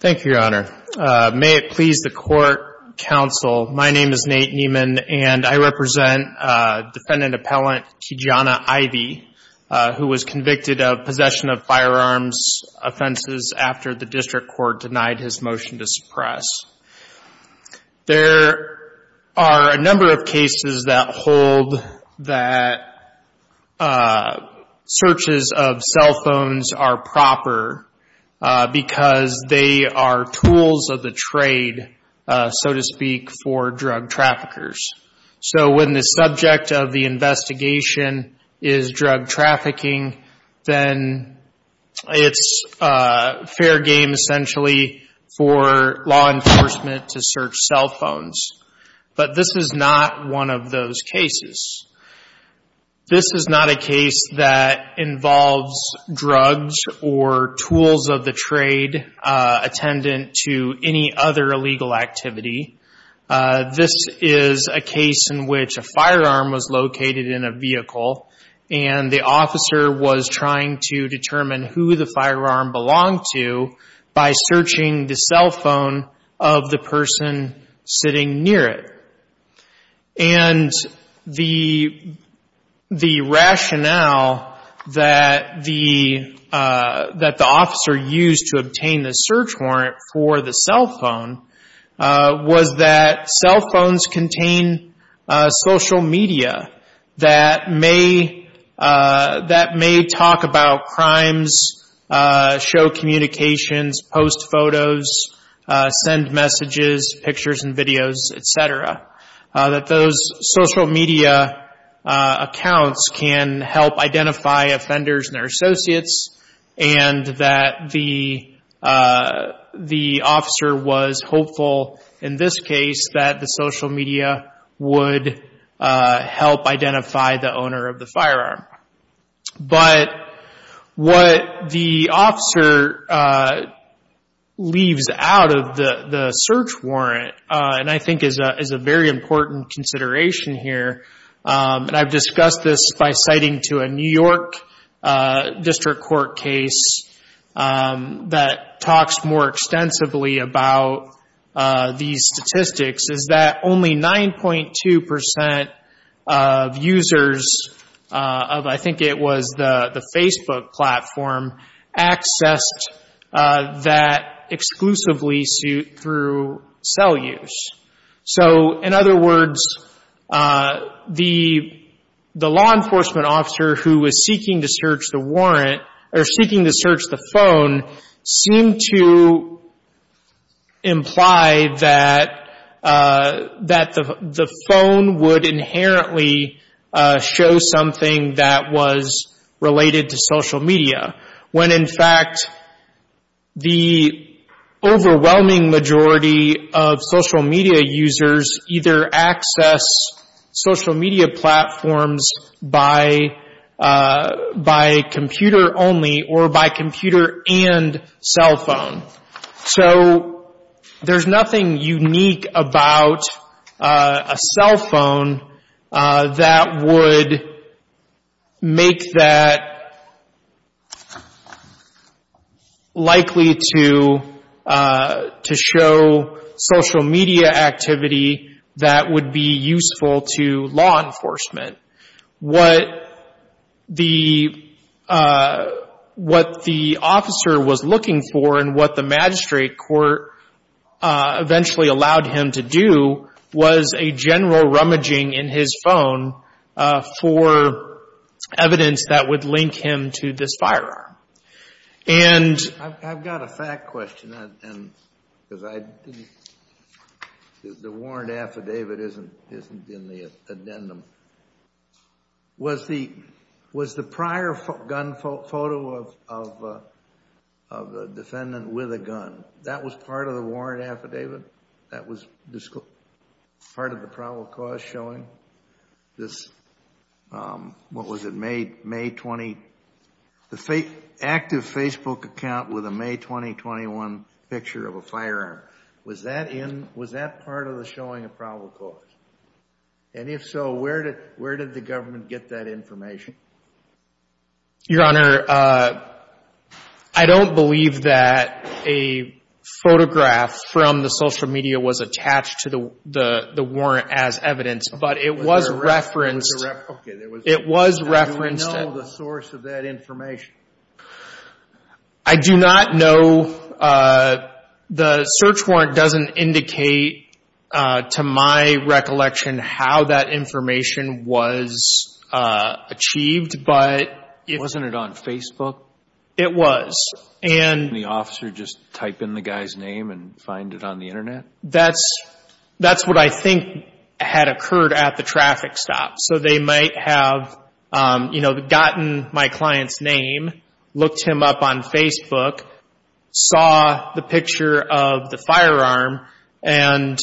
Thank you, Your Honor. May it please the Court, Counsel, my name is Nate Nieman, and I represent Defendant Appellant Ki-Jana Ivey, who was convicted of possession of firearms offenses after the District Court denied his motion to suppress. There are a number of cases that hold that searches of cell phones are proper because they are tools of the trade, so to speak, for drug traffickers. So when the subject of the investigation is drug trafficking, then it's fair game essentially for law enforcement to search cell phones. But this is not one of those cases. This is not a case that involves drugs or tools of the trade attendant to any other illegal activity. This is a case in which a firearm was located in a vehicle and the officer was trying to determine who the firearm belonged to by searching the cell phone. And the rationale that the officer used to obtain the search warrant for the cell phone was that cell phones contain social media that may talk about crimes, show communications, post photos, send messages, pictures and videos, etc. That those social media accounts can help identify offenders and their associates, and that the officer was hopeful in this case that the leaves out of the search warrant, and I think is a very important consideration here. And I've discussed this by citing to a New York District Court case that talks more extensively about these statistics is that only 9.2% of users of, I think it was the Facebook platform, accessed that exclusively through cell use. So in other words, the law enforcement officer who was seeking to search the warrant, or seeking to search the phone, seemed to imply that the phone would the overwhelming majority of social media users either access social media platforms by computer only or by computer and cell phone. So there's nothing unique about a cell phone that would make that likely to show social media activity that would be useful to law enforcement. What the officer was looking for and what the magistrate court eventually allowed him to do was a general rummaging in his phone for evidence that would link him to this firearm. I've got a fact question. The warrant affidavit isn't in the addendum. Was the prior gun photo of the defendant with a gun, that was part of the warrant affidavit? That was part of the probable cause showing this, what was it, May 20? The active Facebook account with a May 2021 picture of a firearm, was that part of the showing of probable cause? And if so, where did the government get that information? Your Honor, I don't believe that a photograph from the social media was attached to the warrant as evidence, but it was referenced. It was referenced. Do you know the source of that information? I do not know. The search warrant doesn't indicate to my recollection how that information was achieved. Wasn't it on Facebook? It was. The officer just type in the guy's name and find it on the internet? That's what I think had occurred at the traffic stop. So they might have gotten my client's name, looked him up on Facebook, saw the picture of the firearm, and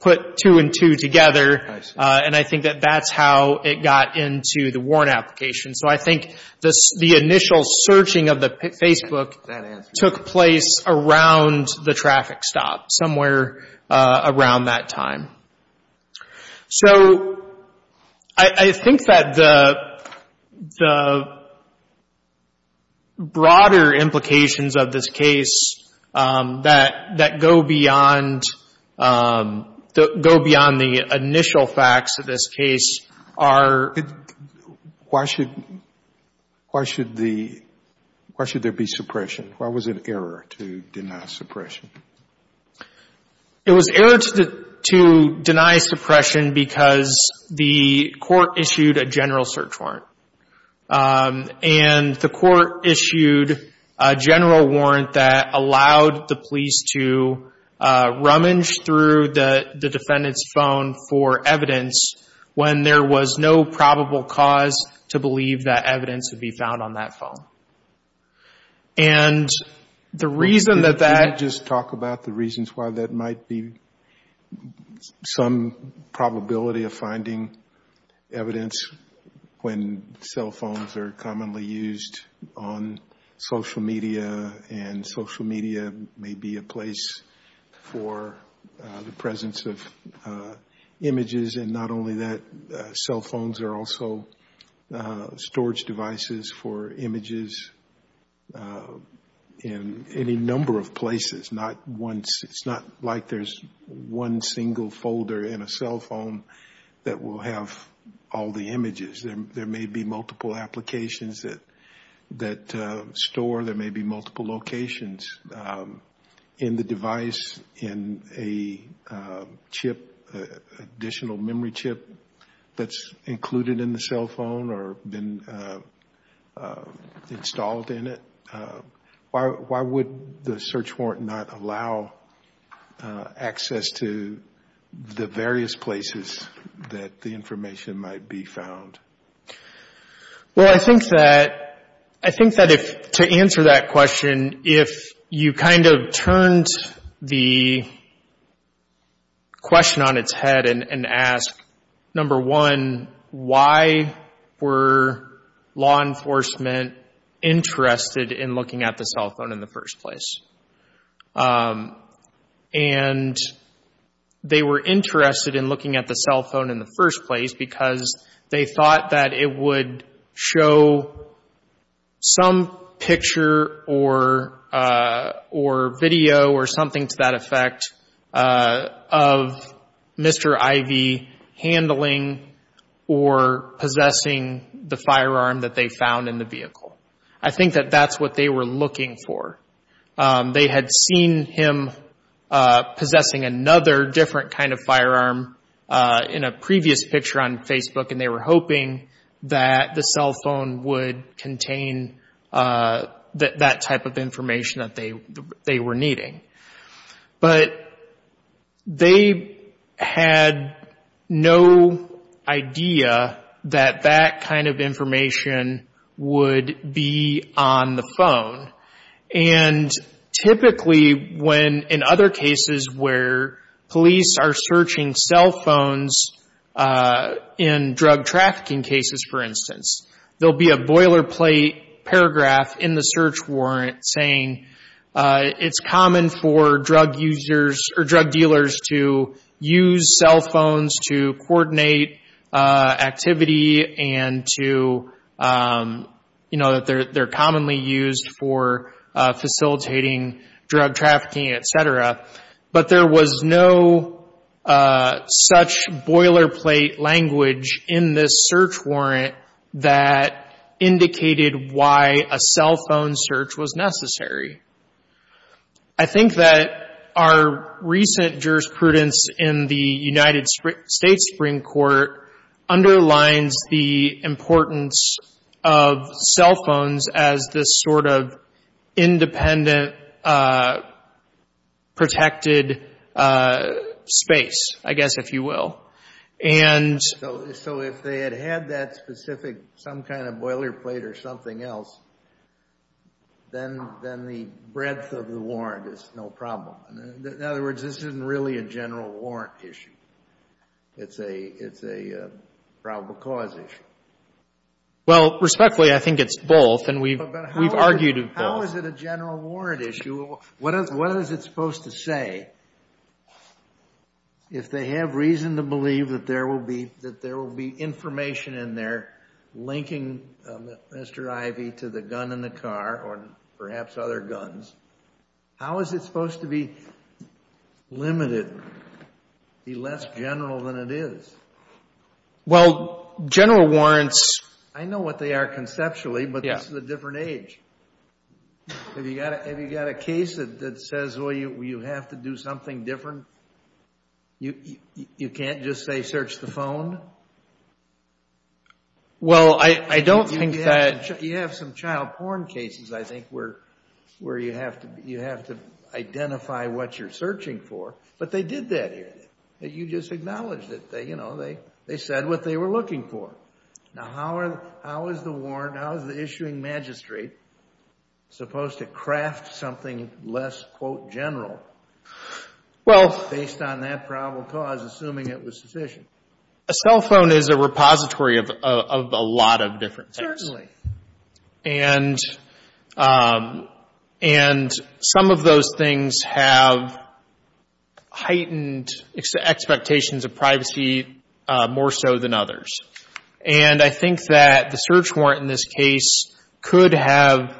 put two and two together. And I think that that's how it got into the warrant application. So I think the initial searching of the Facebook took place around the traffic stop, somewhere around that time. So I think that the broader implications of this case that go beyond the initial facts of this case are... Why should there be suppression? Why was it an error to deny suppression? It was an error to deny suppression because the court issued a general search warrant. And the court issued a general warrant that allowed the police to rummage through the phone for evidence when there was no probable cause to believe that evidence would be found on that phone. And the reason that that... Could you just talk about the reasons why that might be some probability of finding evidence when cell phones are commonly used on social media and social media may be a place for the presence of images. And not only that, cell phones are also storage devices for images in any number of places. It's not like there's one single folder in a cell phone that will have all the images. There may be multiple applications that store, there may be in a chip, additional memory chip that's included in the cell phone or been installed in it. Why would the search warrant not allow access to the various places that the information might be found? Well, I think that to answer that question, if you kind of turned the question on its head and ask, number one, why were law enforcement interested in looking at the cell phone in the first place? And they were interested in looking at the cell phone in the first place. They thought that it would show some picture or video or something to that effect of Mr. Ivey handling or possessing the firearm that they found in the vehicle. I think that that's what they were looking for. They had seen him possessing another different firearm in a previous picture on Facebook and they were hoping that the cell phone would contain that type of information that they were needing. But they had no idea that that kind of information would be on the phone. And typically when in other cases where police are searching cell phones in drug trafficking cases, for instance, there'll be a boilerplate paragraph in the search warrant saying it's common for drug users or drug dealers to use cell phones to coordinate activity and to you know, that they're commonly used for facilitating drug trafficking, etc. But there was no such boilerplate language in this search warrant that indicated why a cell phone search was necessary. I think that our recent jurisprudence in the United States Supreme Court underlines the importance of cell phones as this sort of independent protected space, I guess if you will. So if they had had that specific, some kind of boilerplate or something else, then the breadth of the warrant is no problem. In other words, this isn't really a probable cause issue. Well, respectfully, I think it's both and we've argued both. How is it a general warrant issue? What is it supposed to say if they have reason to believe that there will be information in there linking Mr. Ivey to the gun in the car or perhaps other guns? How is it supposed to be Well, general warrants... I know what they are conceptually, but this is a different age. Have you got a case that says, well, you have to do something different? You can't just say search the phone? Well, I don't think that... You have some child porn cases, I think, where you have to identify what you're searching for. But they did that here. You just said what they were looking for. Now, how is the warrant, how is the issuing magistrate supposed to craft something less, quote, general based on that probable cause, assuming it was sufficient? A cell phone is a repository of a lot of different things. Certainly. And some of those things have heightened expectations of privacy more so than others. And I think that the search warrant in this case could have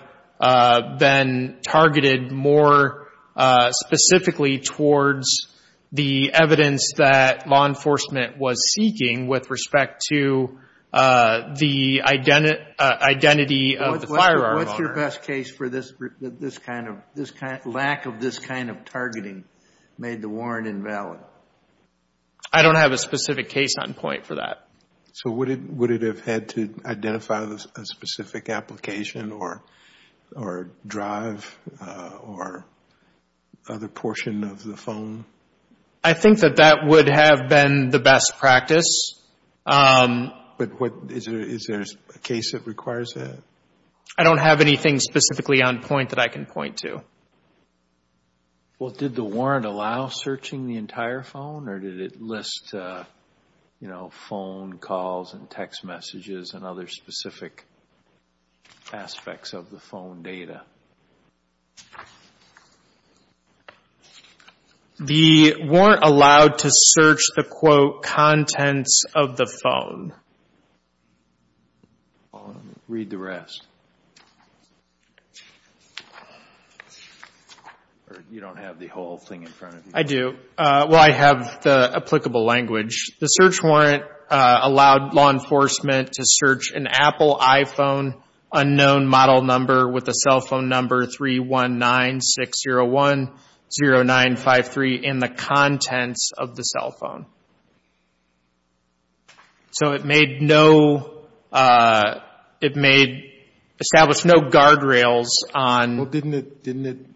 been targeted more specifically towards the evidence that law enforcement was seeking with respect to the identity of the firearm owner. What's your best case for this kind of... case on point for that? So would it have had to identify a specific application or drive or other portion of the phone? I think that that would have been the best practice. But is there a case that requires that? I don't have anything specifically on point that I can phone calls and text messages and other specific aspects of the phone data. The warrant allowed to search the, quote, contents of the phone. Read the rest. Or you don't have the whole thing in front of you? I do. Well, I have the applicable language. The search warrant allowed law enforcement to search an Apple iPhone unknown model number with a cell phone number 319-601-0953 in the contents of the cell phone. So it made no, it made, established no guardrails on... Didn't it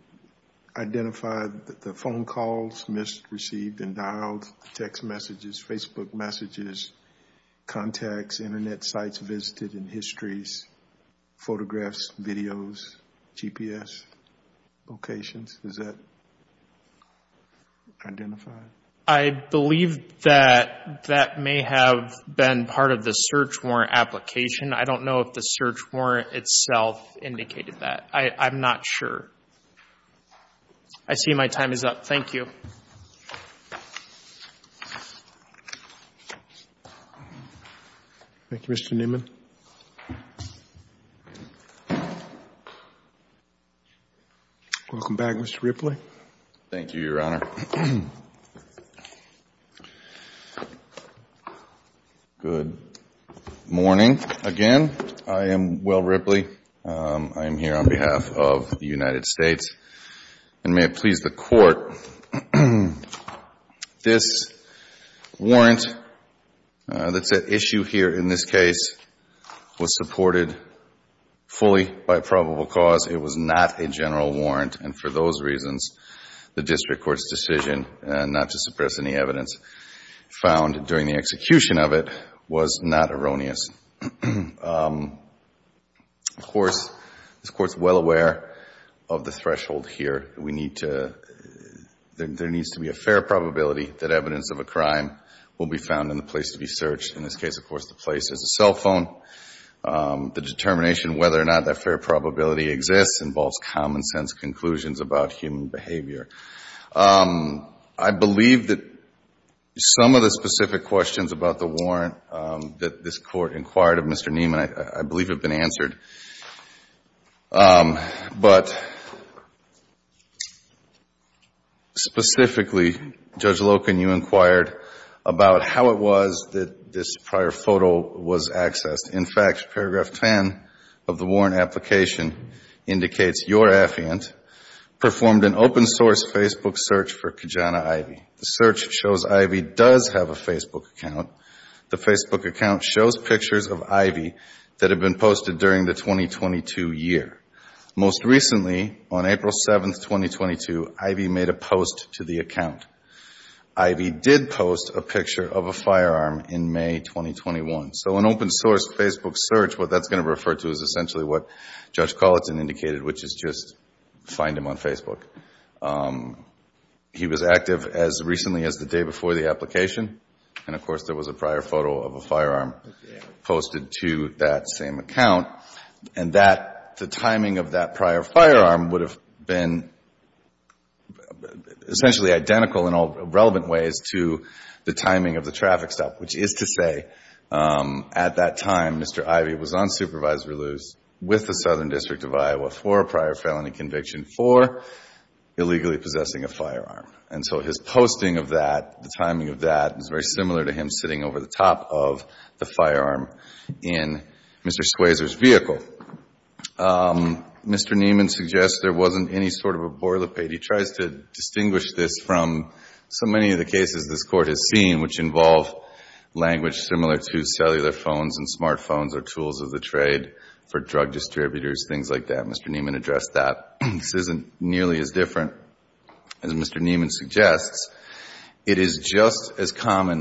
identify the phone calls missed, received and dialed, text messages, Facebook messages, contacts, Internet sites visited and histories, photographs, videos, GPS locations? Does that identify? I believe that that may have been part of the search warrant application. I don't know if the search warrant itself indicated that. I'm not sure. I see my time is up. Thank you. Thank you, Mr. Newman. Welcome back, Mr. Ripley. Thank you, Your Honor. Good morning again. I am Will Ripley. I'm here on behalf of the United States. And may it please the Court, this warrant that's at issue here in this case was supported fully by probable cause. It was not a general warrant. And for those reasons, the district court's decision not to suppress any evidence found during the execution of it was not erroneous. Of course, this Court's well aware of the threshold here. We need to, there needs to be a fair probability that evidence of a crime will be found in the place to be searched. In this case, of course, the place is a cell phone. The determination whether or not that fair probability exists involves common sense conclusions about human behavior. I believe that some of the specific questions about the warrant that this Court inquired of Mr. Newman, I believe have been answered. But specifically, Judge Loken, you inquired about how it was that this prior photo was accessed. In fact, paragraph 10 of the warrant application indicates your affiant performed an open source Facebook search for Kajana Ivey. The search shows Ivey does have a Facebook account. The Facebook account shows pictures of Ivey that have been posted during the 2022 year. Most recently, on April 7, 2022, Ivey made a post to the account. Ivey did post a picture of a firearm in May 2021. So an open source Facebook search, what that's going to refer to is essentially what Judge Colleton indicated, which is just find him on Facebook. He was active as recently as the day before the posted to that same account. And that, the timing of that prior firearm would have been essentially identical in all relevant ways to the timing of the traffic stop, which is to say at that time, Mr. Ivey was on supervisory loose with the Southern District of Iowa for a prior felony conviction for illegally possessing a firearm. And so his posting of that, the timing of that is very similar to him sitting over the top of the firearm in Mr. Swayzer's vehicle. Mr. Neiman suggests there wasn't any sort of a boilerplate. He tries to distinguish this from so many of the cases this Court has seen, which involve language similar to cellular phones and smartphones are tools of the trade for drug distributors, things like that. Mr. Neiman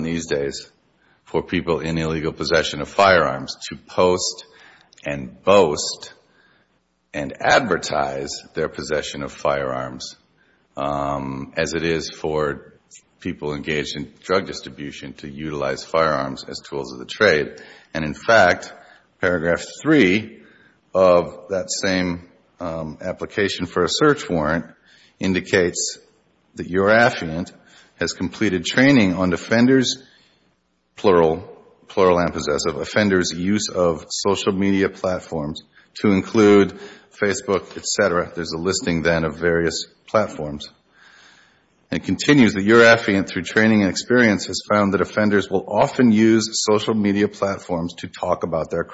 these days for people in illegal possession of firearms to post and boast and advertise their possession of firearms as it is for people engaged in drug distribution to utilize firearms as tools of the trade. And in fact, paragraph three of that same application for a search warrant indicates that your affluent has completed training on offenders, plural, plural and possessive, offenders use of social media platforms to include Facebook, et cetera. There's a listing then of various platforms. It continues that your affluent through training and experience has found that offenders will often use social media platforms to talk about their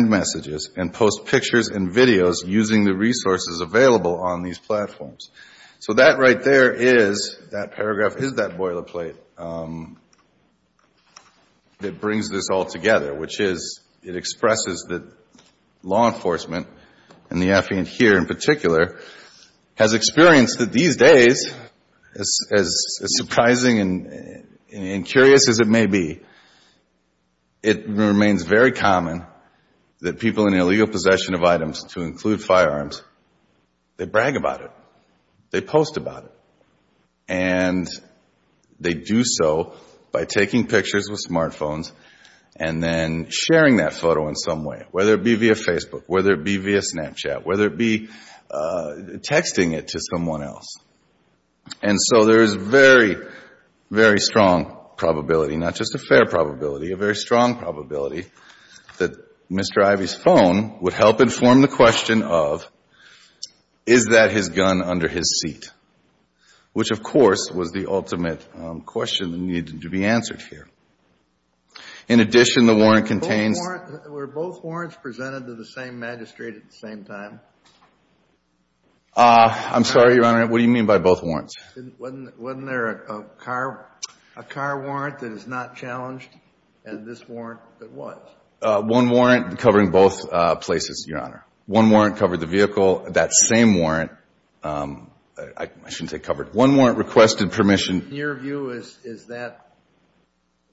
messages and post pictures and videos using the resources available on these platforms. So that right there is, that paragraph is that boilerplate that brings this all together, which is it expresses that law enforcement and the affluent here in particular has experienced that and curious as it may be, it remains very common that people in illegal possession of items to include firearms, they brag about it. They post about it. And they do so by taking pictures with smartphones and then sharing that photo in some way, whether it be via Facebook, whether it be via Snapchat, whether it be texting it to someone else. And so there is very, very strong probability, not just a fair probability, a very strong probability that Mr. Ivey's phone would help inform the question of is that his gun under his seat, which of course was the ultimate question that needed to be answered here. In addition, the warrant contains Were both warrants presented to the same magistrate at the same time? I'm sorry, Your Honor. What do you mean by both warrants? Wasn't there a car warrant that is not challenged and this warrant that was? One warrant covering both places, Your Honor. One warrant covered the vehicle. That same warrant, I shouldn't say covered. One warrant requested permission. In your view, is that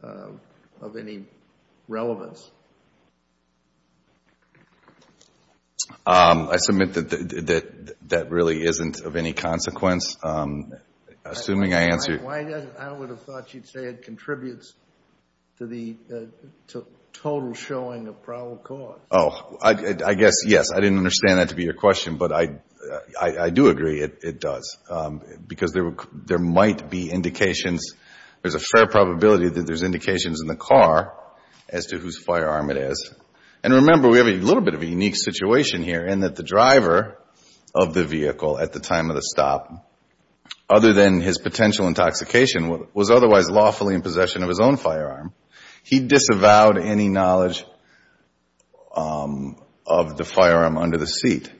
of any relevance? I submit that that really isn't of any consequence, assuming I answered. I would have thought you'd say it contributes to the total showing of probable cause. Oh, I guess, yes. I didn't understand that to be your question, but I do agree it does, because there might be indications. There's a fair probability that there's indications in the car as to whose firearm it is. And remember, we have a little bit of a unique situation here in that the driver of the vehicle at the time of the stop, other than his potential intoxication, was otherwise lawfully in possession of his own firearm. He disavowed any knowledge of the firearm under the seat.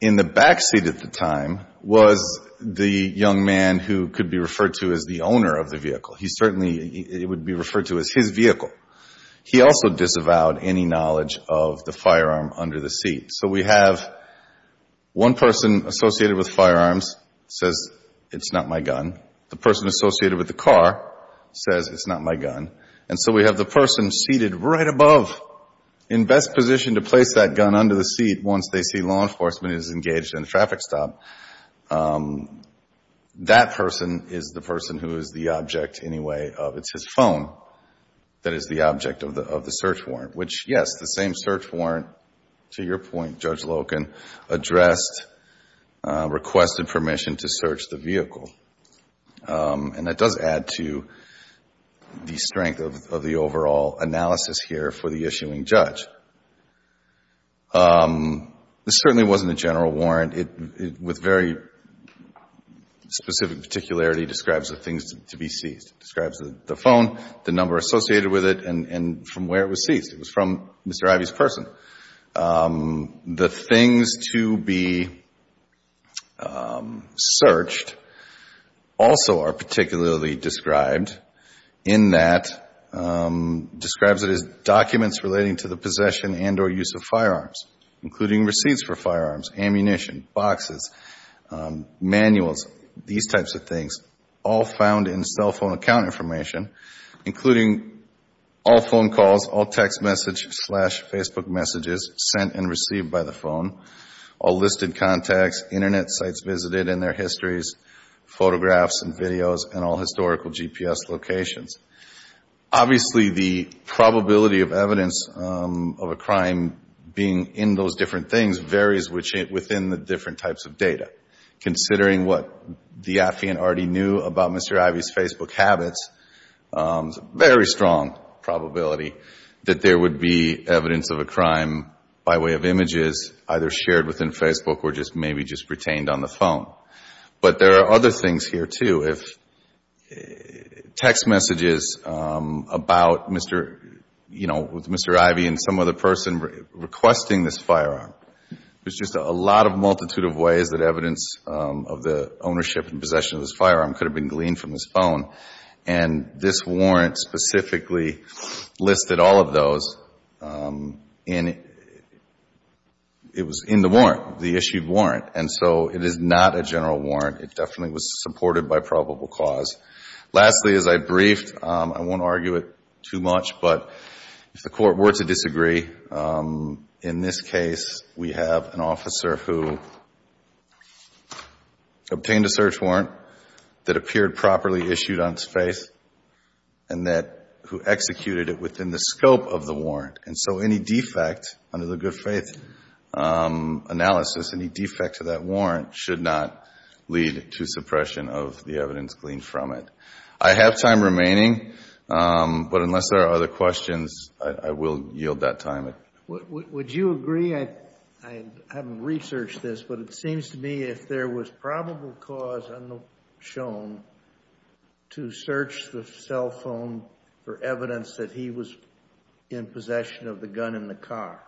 In the backseat at the time was the young man who could be referred to as the owner of the vehicle. He certainly, it would be referred to as his vehicle. He also disavowed any knowledge of the firearm under the seat. So we have one person associated with firearms says, it's not my gun. The person associated with the car says, it's not my gun. And so we have the person seated right above, in best position to place that gun under the seat once they see law enforcement is engaged in a traffic stop. That person is the person who is the object anyway of, it's his phone that is the object of the search warrant, which, yes, the same search warrant, to your point, Judge Loken, addressed, requested permission to search the vehicle. And that does add to the strength of the overall analysis here for the issuing judge. This certainly wasn't a general warrant. It, with very specific particularity, describes the things to be seized. Describes the phone, the number associated with it, and from where it was seized. It was from Mr. Ivey's person. The things to be searched also are particularly described in that, describes it as documents relating to the possession and or use of firearms, including receipts for firearms, ammunition, boxes, manuals, these types of things, all found in cell phone account information, including all phone calls, all text message slash Facebook messages sent and received by the phone, all listed contacts, internet sites visited and their histories, photographs and videos, and all historical GPS locations. Obviously, the probability of evidence of a crime being in those different things varies within the different types of data. Considering what the affiant already knew about Mr. Ivey's Facebook habits, very strong probability that there would be evidence of a crime by way of images, either shared within Facebook or just maybe just retained on the phone. But there are other things here, too. If text messages about Mr., you know, with Mr. Ivey and some other person requesting this firearm, there's just a lot of multitude of ways that evidence of the ownership and possession of this firearm could have been gleaned from his phone. And this warrant specifically listed all of those in, it was in the warrant, the issued warrant. And so it is not a general warrant. It definitely was supported by probable cause. Lastly, as I briefed, I won't argue it too much, but if the court were to disagree, in this case, we have an officer who obtained a search warrant that appeared properly issued on its face and that, who executed it within the scope of the warrant. And so any defect under the good faith analysis, any defect to that warrant should not lead to suppression of the evidence gleaned from it. I have time remaining, but unless there are other questions, I will yield that time. Would you agree, I haven't researched this, but it seems to me if there was probable cause shown to search the cell phone for evidence that he was in possession of the gun in the car,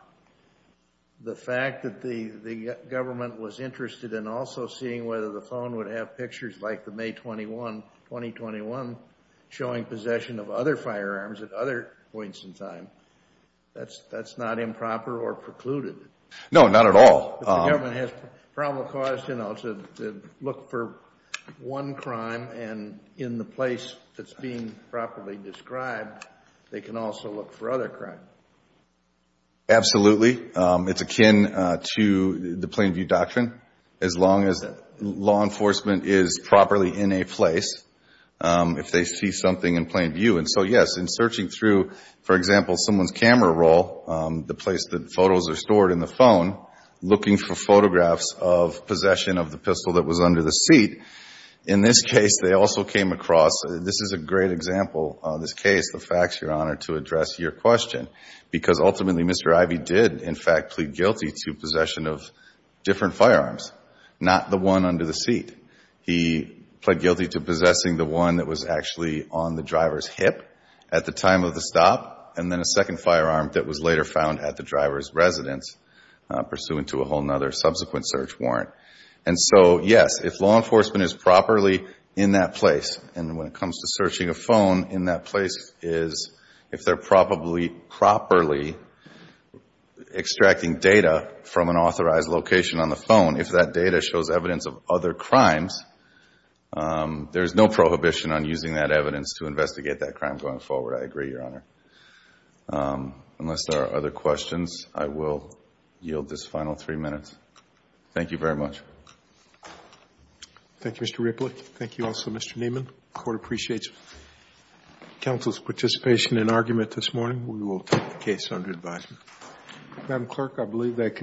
the fact that the government was interested in also seeing whether the phone would have pictures like the May 21, 2021, showing possession of other firearms at other points in time, that's not improper or precluded. No, not at all. If the government has probable cause, you know, to look for one crime and in the place that's being properly described, they can also look for other in a place if they see something in plain view. And so, yes, in searching through, for example, someone's camera roll, the place that photos are stored in the phone, looking for photographs of possession of the pistol that was under the seat, in this case, they also came across, this is a great example of this case, the facts, Your Honor, to address your question. Because ultimately, Mr. Ivey did, in fact, plead guilty to possession of different firearms, not the one under the seat. He pled guilty to possessing the one that was actually on the driver's hip at the time of the stop, and then a second firearm that was later found at the driver's residence, pursuant to a whole other subsequent search warrant. And so, yes, if law enforcement is properly in that place, and when it comes to searching a phone in that place is, if they're properly extracting data from an authorized location on the phone, if that data shows evidence of other crimes, there's no prohibition on using that evidence to investigate that crime going forward. I agree, Your Honor. Unless there are other questions, I will yield this final three minutes. Thank you very much. Thank you, Mr. Ripley. Thank you also, Mr. Freeman. Court appreciates counsel's participation and argument this morning. We will take the case under advisement.